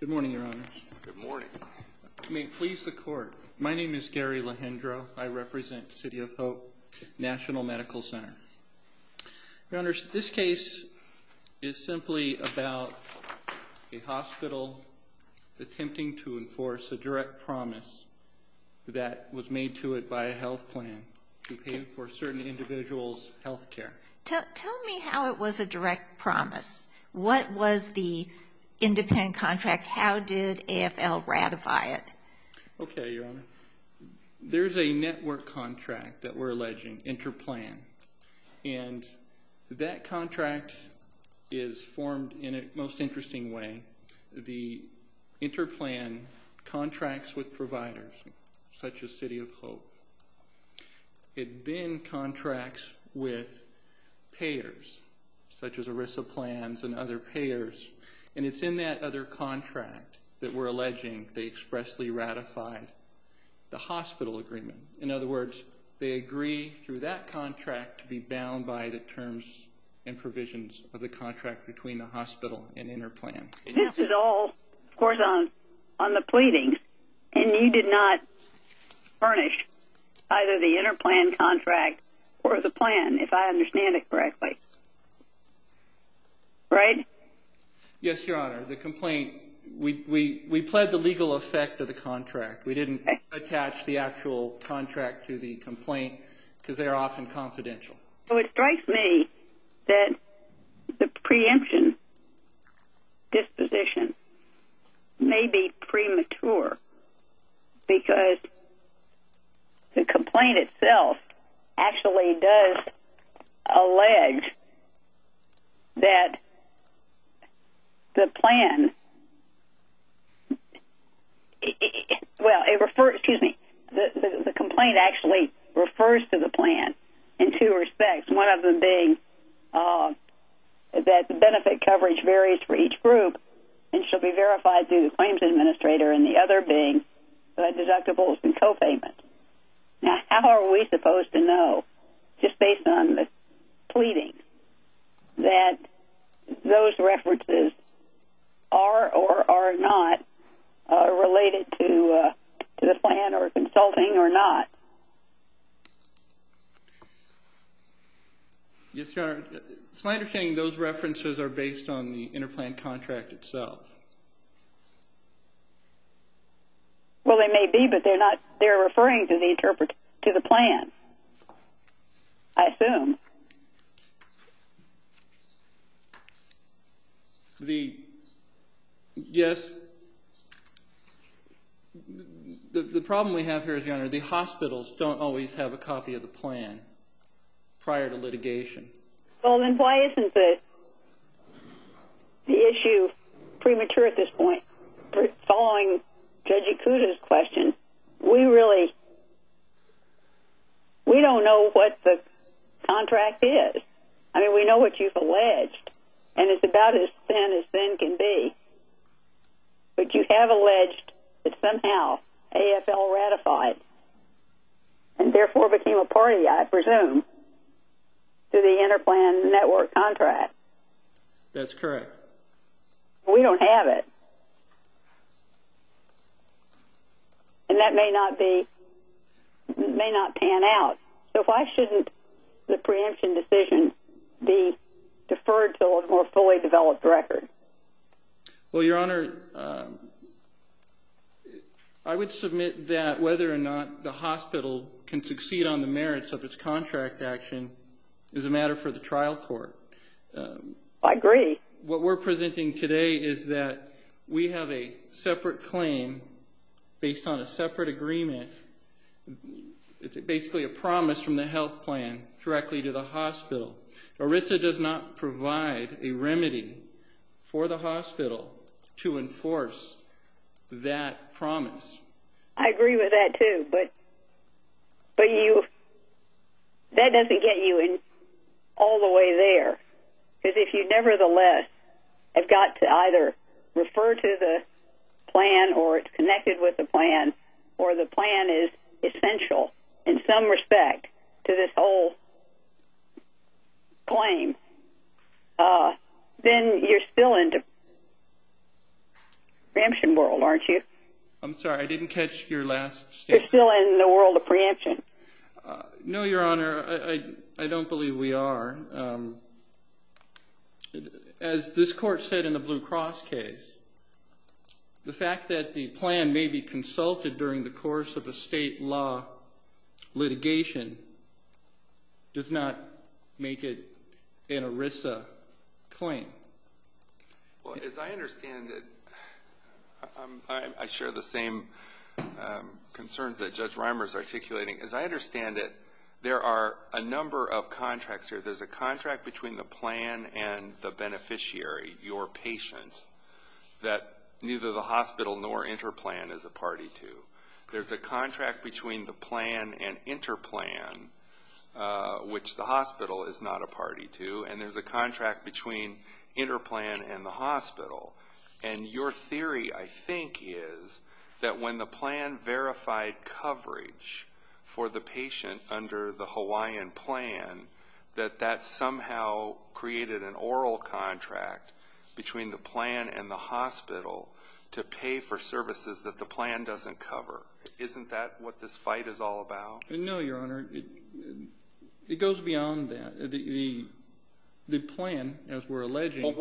Good morning, Your Honors. Good morning. You may please the court. My name is Gary Lehendro. I represent City of Hope National Medical Center. Your Honors, this case is simply about a hospital attempting to enforce a direct promise that was made to it by a health plan to pay for certain individuals' health care. Tell me how it was a independent contract. How did AFL ratify it? Okay, Your Honor. There's a network contract that we're alleging, InterPlan, and that contract is formed in a most interesting way. The InterPlan contracts with providers such as City of Hope. It then contracts with payers such as providers, and it's in that other contract that we're alleging they expressly ratified the hospital agreement. In other words, they agree through that contract to be bound by the terms and provisions of the contract between the hospital and InterPlan. This is all, of course, on the pleading, and you did not furnish either the InterPlan contract or the plan, if I understand it correctly. Right? Yes, Your Honor. The complaint, we pled the legal effect of the contract. We didn't attach the actual contract to the complaint because they are often confidential. So it strikes me that the preemption disposition may be premature because the complaint itself actually does allege that the plan well, it refers, excuse me, the complaint actually refers to the plan in two respects. One of them being that the benefit coverage varies for each group and should be verified through the claims administrator, and the other being deductibles and co-payments. Now, how are we supposed to know just based on the pleading that those references are or are not related to the plan or consulting or not? Yes, Your Honor. It's my understanding those references are based on the InterPlan contract itself. Well, they may be, but they're referring to the plan, I assume. Yes. The problem we have here is, Your Honor, the hospitals don't always have a copy of the plan prior to litigation. Well, then why isn't it the issue premature at this point? Following Judge Ikuda's question, we really, we don't know what the contract is. I mean, we know what you've alleged, and it's about as thin as thin can be. But you have alleged that somehow AFL ratified and therefore became a party, I presume, to the InterPlan Network contract. That's correct. We don't have it. And that may not be, may not pan out. So why shouldn't the preemption decision be deferred to a more fully developed record? Well, Your Honor, I would submit that whether or not the hospital can succeed on the merits of its contract action is a matter for the trial court. I agree. What we're presenting today is that we have a separate claim based on a separate agreement. It's basically a promise from the health plan directly to the hospital. ERISA does not provide a remedy for the hospital to enforce that promise. I agree with that too, but that doesn't get you all the way there. Because if you nevertheless have got to either refer to the plan or it's connected with the plan or the plan is essential in some respect to this whole claim, then you're still in the preemption world, aren't you? I'm sorry. I didn't catch your last statement. You're still in the world of preemption. No, Your Honor. I don't believe we are. As this Court said in the Blue Cross case, the fact that the plan may be consulted during the course of a state law litigation does not make it an ERISA claim. Well, as I understand it, I share the same concerns that Judge Reimer is articulating. As I understand it, there are a number of contracts here. There's a contract between the plan and the beneficiary, your patient, that neither the hospital nor Interplan is a party to. There's a contract between the plan and Interplan, which the hospital is not a party to. And there's a contract between Interplan and the hospital. And your theory, I think, is that when the plan verified coverage for the patient under the Hawaiian plan, that that somehow created an oral contract between the plan and the hospital to pay for services that the plan doesn't cover. Isn't that what this fight is all about? No, Your Honor. It goes beyond that. The plan, as we're alleging...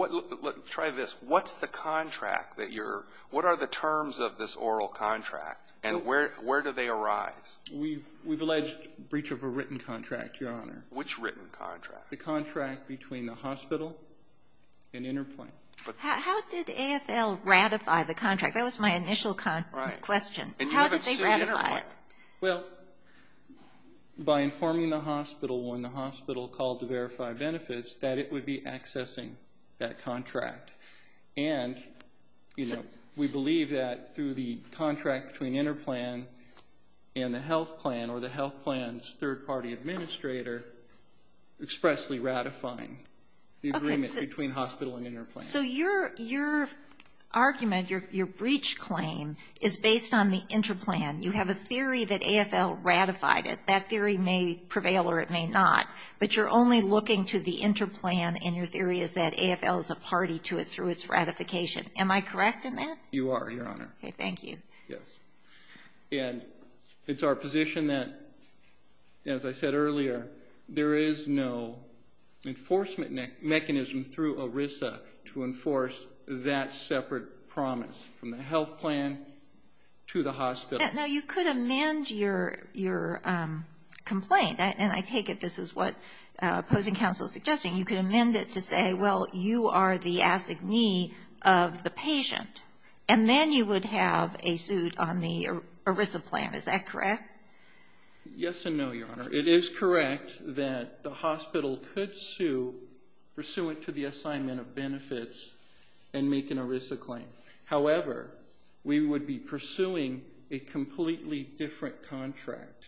Try this. What's the contract that you're... What are the terms of this oral contract? And where do they arise? We've alleged breach of a written contract, Your Honor. Which written contract? The contract between the hospital and Interplan. How did AFL ratify the contract? That was my initial question. How did they ratify it? Well, by informing the hospital when the hospital called to verify benefits that it would be accessing that contract. And, you know, we believe that through the AFL and the health plan, or the health plan's third-party administrator, expressly ratifying the agreement between hospital and Interplan. So your argument, your breach claim, is based on the Interplan. You have a theory that AFL ratified it. That theory may prevail or it may not. But you're only looking to the Interplan, and your theory is that AFL is a party to it through its ratification. Am I correct in that? You are, Your Honor. Okay, thank you. Yes. And it's our position that, as I said earlier, there is no enforcement mechanism through ERISA to enforce that separate promise from the health plan to the hospital. Now, you could amend your complaint, and I take it this is what opposing counsel is suggesting. You could amend it to say, well, you are the assignee of the hospital and you have a suit on the ERISA plan. Is that correct? Yes and no, Your Honor. It is correct that the hospital could sue pursuant to the assignment of benefits and make an ERISA claim. However, we would be pursuing a completely different contract.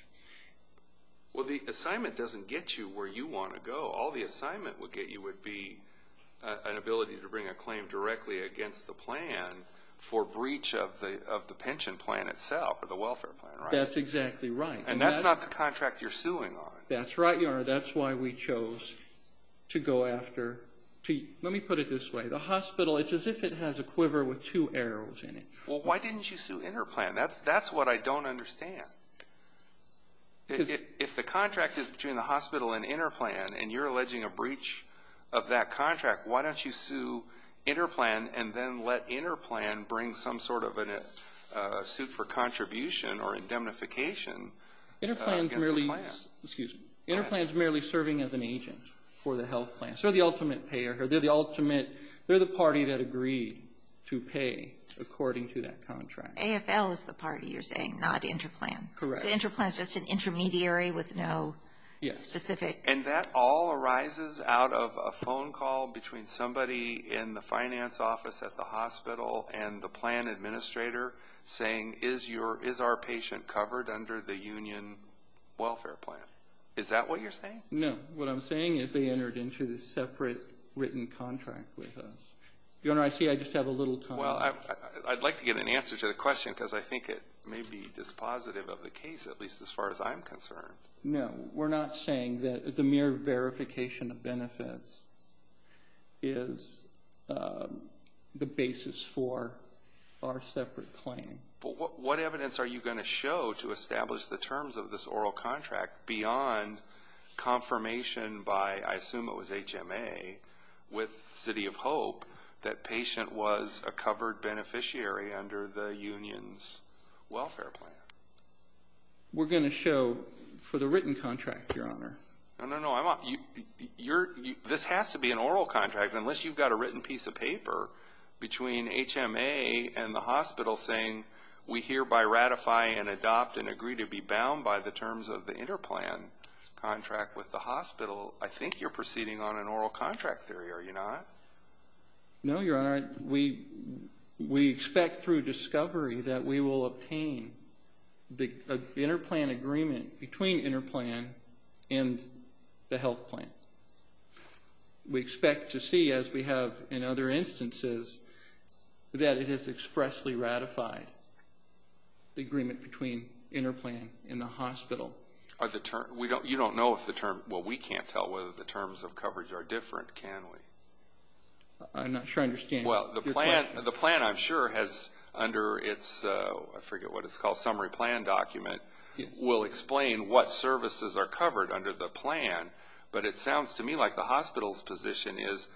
Well, the assignment doesn't get you where you want to go. All the assignment would get you would be an ability to bring a claim directly against the plan for breach of the pension plan itself, or the welfare plan, right? That's exactly right. And that's not the contract you're suing on. That's right, Your Honor. That's why we chose to go after let me put it this way. The hospital, it's as if it has a quiver with two arrows in it. Well, why didn't you sue InterPlan? That's what I don't understand. If the contract is between the hospital and InterPlan and you're alleging a breach of that contract, why don't you sue InterPlan and then let InterPlan bring some sort of suit for contribution or indemnification against the plan? InterPlan is merely serving as an agent for the health plan. They're the party that agreed to pay according to that contract. AFL is the party you're saying, not InterPlan. Correct. So InterPlan is just an intermediary with no specific... And that all arises out of a meeting in the finance office at the hospital and the plan administrator saying, is our patient covered under the union welfare plan? Is that what you're saying? No. What I'm saying is they entered into this separate written contract with us. Your Honor, I see I just have a little time. Well, I'd like to get an answer to the question because I think it may be dispositive of the case, at least as far as I'm concerned. No. We're not saying that the mere verification of benefits is the basis for our separate claim. But what evidence are you going to show to establish the terms of this oral contract beyond confirmation by, I assume it was HMA, with City of Hope, that patient was a covered beneficiary under the union's welfare plan? We're going to show for the written contract, Your Honor. No, no, no. This has to be an oral contract unless you've got a written piece of paper between HMA and the hospital saying, we hereby ratify and adopt and agree to be bound by the terms of the InterPlan contract with the hospital. I think you're proceeding on an oral contract theory, are you not? No, Your Honor. We expect through discovery that we will obtain the InterPlan agreement between InterPlan and the health plan. We expect to see, as we have in other instances, that it has expressly ratified the agreement between InterPlan and the hospital. You don't know if the terms, well, we can't tell whether the terms of coverage are different, can we? I'm not sure I understand your question. The plan, I'm sure, has under its, I forget what it's called, summary plan document will explain what services are covered under the plan, but it sounds to me like the hospital's position is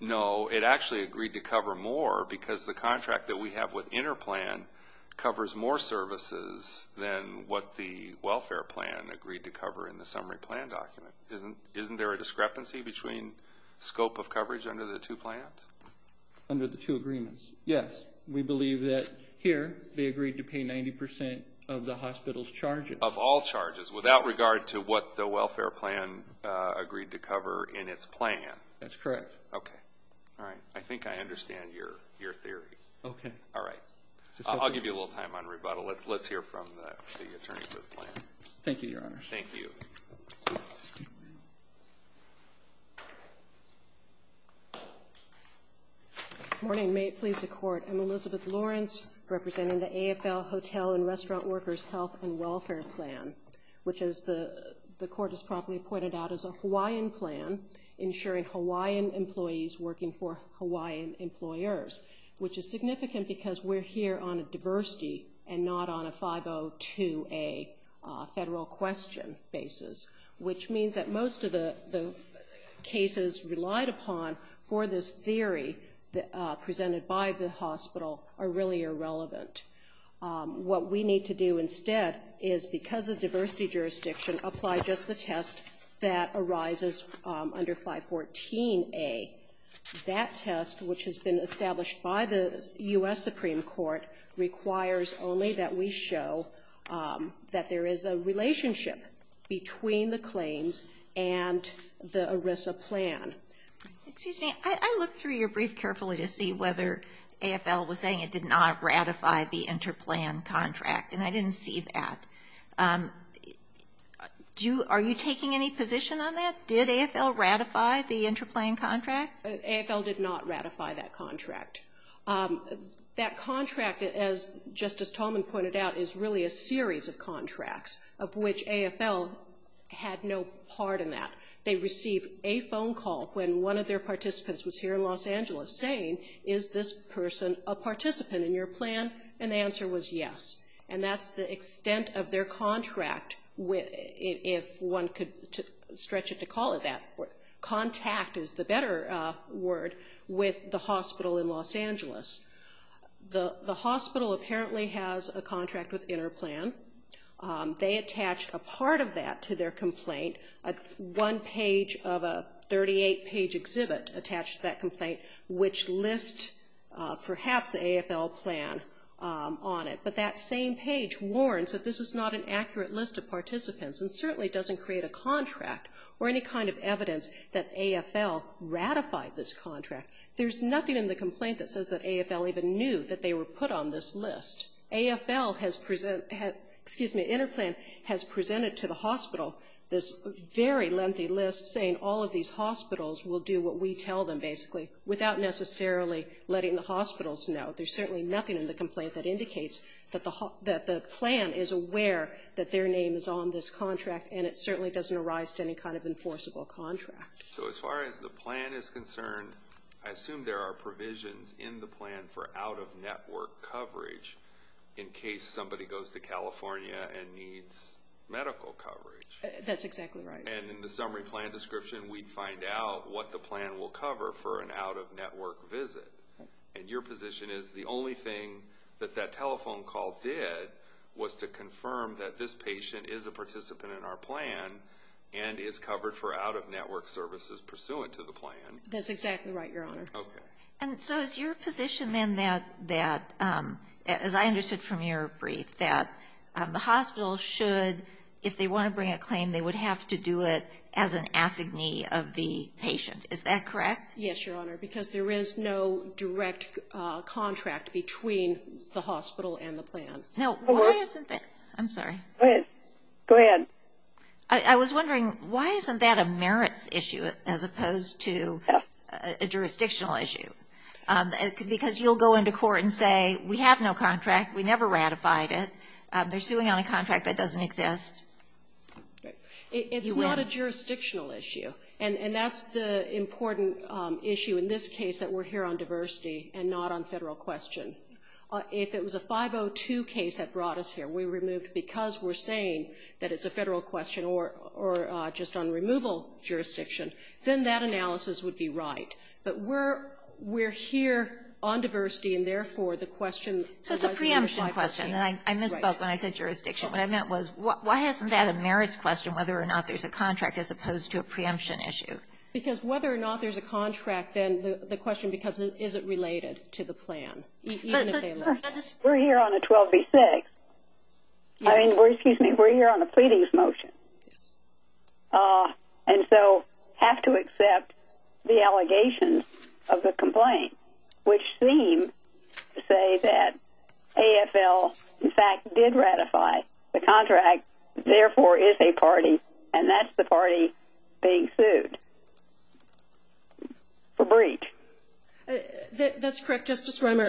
no, it actually agreed to cover more because the contract that we have with InterPlan covers more services than what the welfare plan agreed to cover in the summary plan document. Isn't there a discrepancy between scope of coverage under the two plans? Under the two agreements, yes. We believe that here they agreed to pay 90% of the hospital's charges. Of all charges, without regard to what the welfare plan agreed to cover in its plan? That's correct. Okay. All right. I think I understand your theory. Okay. All right. I'll give you a little time on rebuttal. Let's hear from the attorney for the plan. Thank you, Your Honor. Thank you. Good morning. Good morning. May it please the Court. I'm Elizabeth Lawrence representing the AFL Hotel and Restaurant Workers Health and Welfare Plan, which as the Court has probably pointed out is a Hawaiian plan ensuring Hawaiian employees working for Hawaiian employers, which is significant because we're here on a diversity and not on a 502A federal question basis, which means that most of the cases relied upon for this theory presented by the hospital are really irrelevant. What we need to do instead is, because of diversity jurisdiction, apply just the test that arises under 514A. That test, which has been established by the U.S. Supreme Court, requires only that we show that there is a relationship between the claims and the ERISA plan. Excuse me. I looked through your brief carefully to see whether AFL was saying it did not ratify the interplan contract, and I didn't see that. Are you taking any position on that? Did AFL ratify the interplan contract? AFL did not ratify that contract. That contract, as Justice Tolman pointed out, is really a series of contracts of which AFL had no part in that. They received a phone call when one of their participants was here in Los Angeles saying, is this person a participant in your plan? And the answer was yes. And that's the extent of their contract if one could stretch it to call it that. Contact is the better word with the hospital in Los Angeles. The hospital apparently has a contract with interplan. They attached a part of that to their complaint, one page of a 38-page exhibit attached to that complaint, which lists perhaps the AFL plan on it. But that same page warns that this is not an accurate list of participants and certainly doesn't create a contract or any kind of evidence that AFL ratified this contract. There's nothing in the complaint that says that AFL even knew that they were put on this list. AFL has presented, excuse me, interplan has presented to the hospital this very lengthy list saying all of these hospitals will do what we tell them, basically, without necessarily letting the hospitals know. There's certainly nothing in the complaint that indicates that the plan is aware that their name is on this contract and it certainly doesn't arise to any kind of enforceable contract. So as far as the plan is concerned, I assume there are provisions in the plan for out-of-network coverage in case somebody goes to California and needs medical coverage. That's exactly right. And in the summary plan description, we'd find out what the plan will cover for an out-of-network visit. And your position is the only thing that that telephone call did was to confirm that this patient is a participant in our plan and is covered for out-of-network services pursuant to the plan. That's exactly right, Your Honor. Okay. And so is your position then that as I understood from your brief, that the hospital should, if they want to bring a claim, they would have to do it as an assignee of the patient. Is that correct? Yes, Your Honor. Because there is no direct contract between the hospital and the plan. No, why isn't there? I'm sorry. Go ahead. I was wondering, why isn't that a merits issue as opposed to a jurisdictional issue? Because you'll go into court and say, we have no contract. We never ratified it. They're suing on a contract that doesn't exist. It's not a jurisdictional issue. And that's the important issue in this case that we're here on diversity and not on federal question. If it was a 502 case that brought us here, we removed because we're saying that it's a federal question or just on removal jurisdiction, then that analysis would be right. But we're here on diversity and, therefore, the question. So it's a preemption question. I misspoke when I said jurisdiction. What I meant was, why isn't that a merits question, whether or not there's a contract as opposed to a preemption issue? Because whether or not there's a contract, then the question becomes, is it related to the plan? We're here on a 12B6. We're here on a pleadings motion. And so have to accept the allegations of the complaint, which seem to say that AFL, in fact, did ratify the contract. Therefore, it's a party, and that's the party being sued for breach. That's correct, Justice Romer,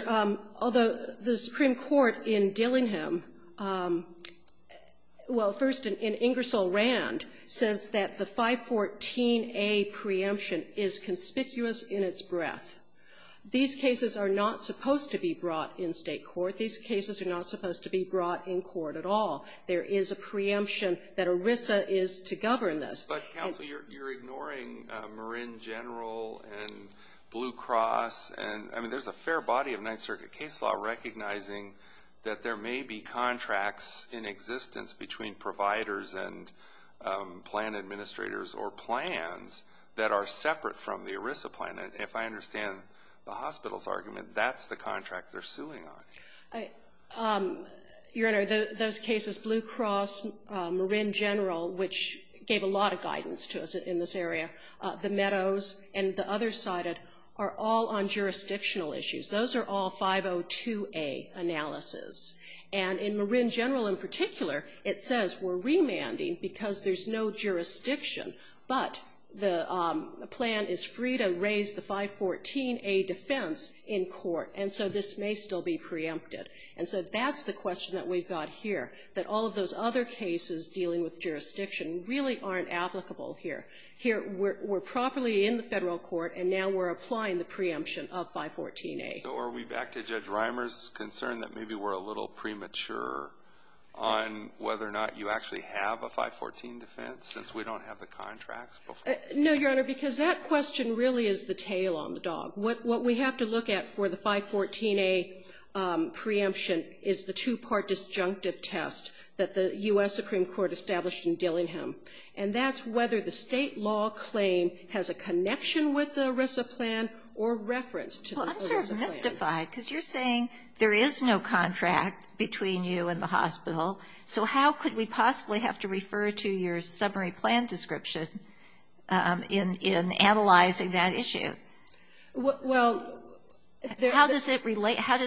although the Supreme Court in Dillingham, well, first in Ingersoll-Rand, says that the 514A preemption is conspicuous in its breadth. These cases are not supposed to be brought in State court. These cases are not supposed to be brought in court at all. There is a preemption that ERISA is to govern this. But, counsel, you're ignoring Marin General and Blue Cross. I mean, there's a fair body of Ninth Circuit case law recognizing that there may be contracts in existence between providers and plan administrators or plans that are separate from the ERISA plan. And if I understand the hospital's argument, that's the contract they're suing on. Your Honor, those cases, Blue Cross, Marin General, which gave a lot of guidance to us in this area, the Meadows, and the other side are all on jurisdictional issues. Those are all 502A analysis. And in Marin General in particular, it says we're remanding because there's no jurisdiction, but the plan is free to raise the 514A defense in court, and so this may still be preempted. And so that's the question that we've got here, that all of those other cases dealing with jurisdiction really aren't applicable here. Here, we're properly in the Federal court, and now we're applying the preemption of 514A. So are we back to Judge Reimer's concern that maybe we're a little premature on whether or not you actually have a 514 defense, since we don't have the contracts before? No, Your Honor, because that question really is the tail on the dog. What we have to look at for the 514A preemption is the two-part disjunctive test that the U.S. Supreme Court established in Dillingham, and that's whether the State law claim has a connection with the ERISA plan or reference to the ERISA plan. Well, I'm sort of mystified, because you're saying there is no contract between you and the hospital, so how could we possibly have to refer to your summary plan description in analyzing that issue? How does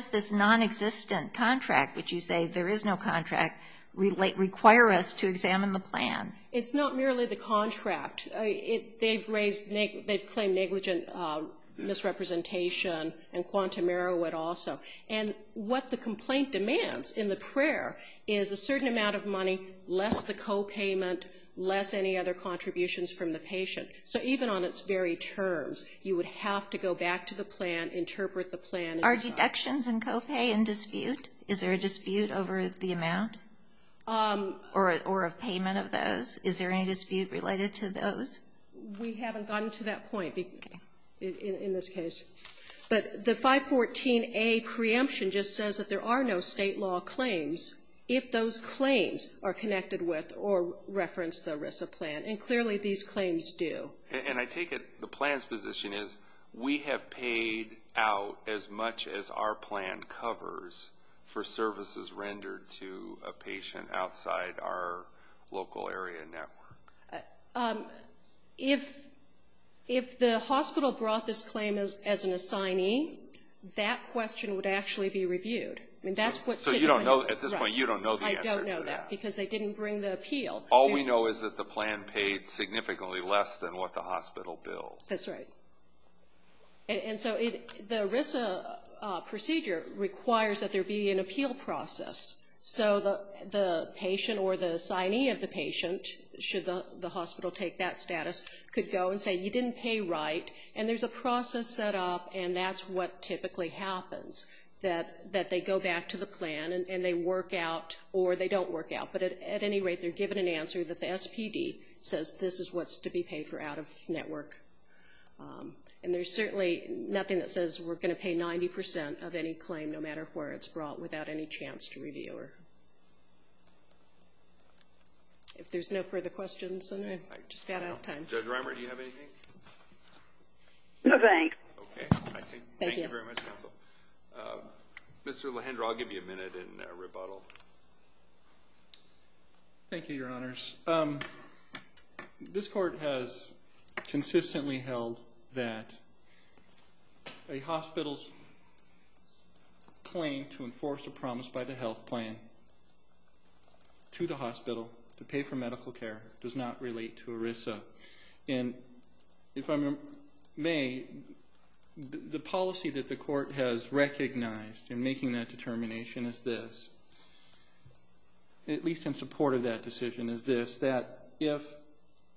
this nonexistent contract, which you say there is no contract, require us to examine the plan? It's not merely the contract. They've claimed negligent misrepresentation and quantum error would also. And what the complaint demands in the prayer is a certain amount of money, less the copayment, less any other contributions from the patient. So even on its very terms, you would have to go back to the plan, interpret the plan. Are deductions and copay in dispute? Is there a dispute over the amount? Or a payment of those? Is there any dispute related to those? We haven't gotten to that point in this case. But the 514A preemption just says that there are no State law claims if those claims are connected with or reference the ERISA plan, and clearly these claims do. And I take it the plan's position is we have paid out as much as our plan covers for services rendered to a patient outside our local area network. If the hospital brought this claim as an assignee, that question would actually be reviewed. So at this point you don't know the answer to that. Because they didn't bring the appeal. All we know is that the plan paid significantly less than what the hospital billed. That's right. And so the ERISA procedure requires that there be an appeal process. So the patient or the assignee of the patient, should the hospital take that status, could go and say you didn't pay right. And there's a process set up, and that's what typically happens, that they go back to the plan and they work out or they don't work out. But at any rate, they're given an answer that the SPD says this is what's to be paid for out of network. And there's certainly nothing that says we're going to pay 90 percent of any claim, no matter where it's brought, without any chance to review it. If there's no further questions, then I've just got out of time. Judge Reimer, do you have anything? No, thanks. Okay. Thank you very much, counsel. Mr. Lehendra, I'll give you a minute in rebuttal. Thank you, Your Honors. This court has consistently held that a hospital's claim to enforce a promise by the health plan to the hospital to pay for medical care does not relate to ERISA. And if I may, the policy that the court has recognized in making that determination is this, at least in support of that decision, is this, that if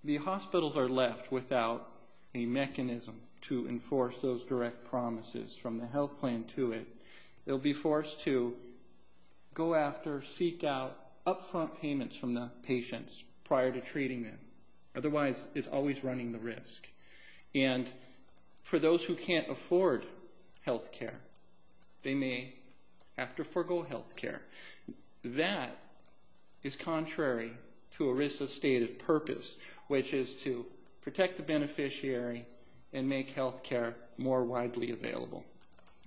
the hospitals are left without a mechanism to enforce those direct promises from the health plan to it, they'll be forced to go after, seek out, upfront payments from the patients prior to treating them. Otherwise, it's always running the risk. And for those who can't afford health care, they may have to forego health care. That is contrary to ERISA's stated purpose, which is to protect the beneficiary and make health care more widely available.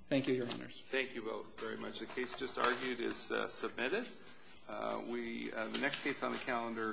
Thank you, Your Honors. Thank you both very much. The case just argued is submitted. The next case on the calendar.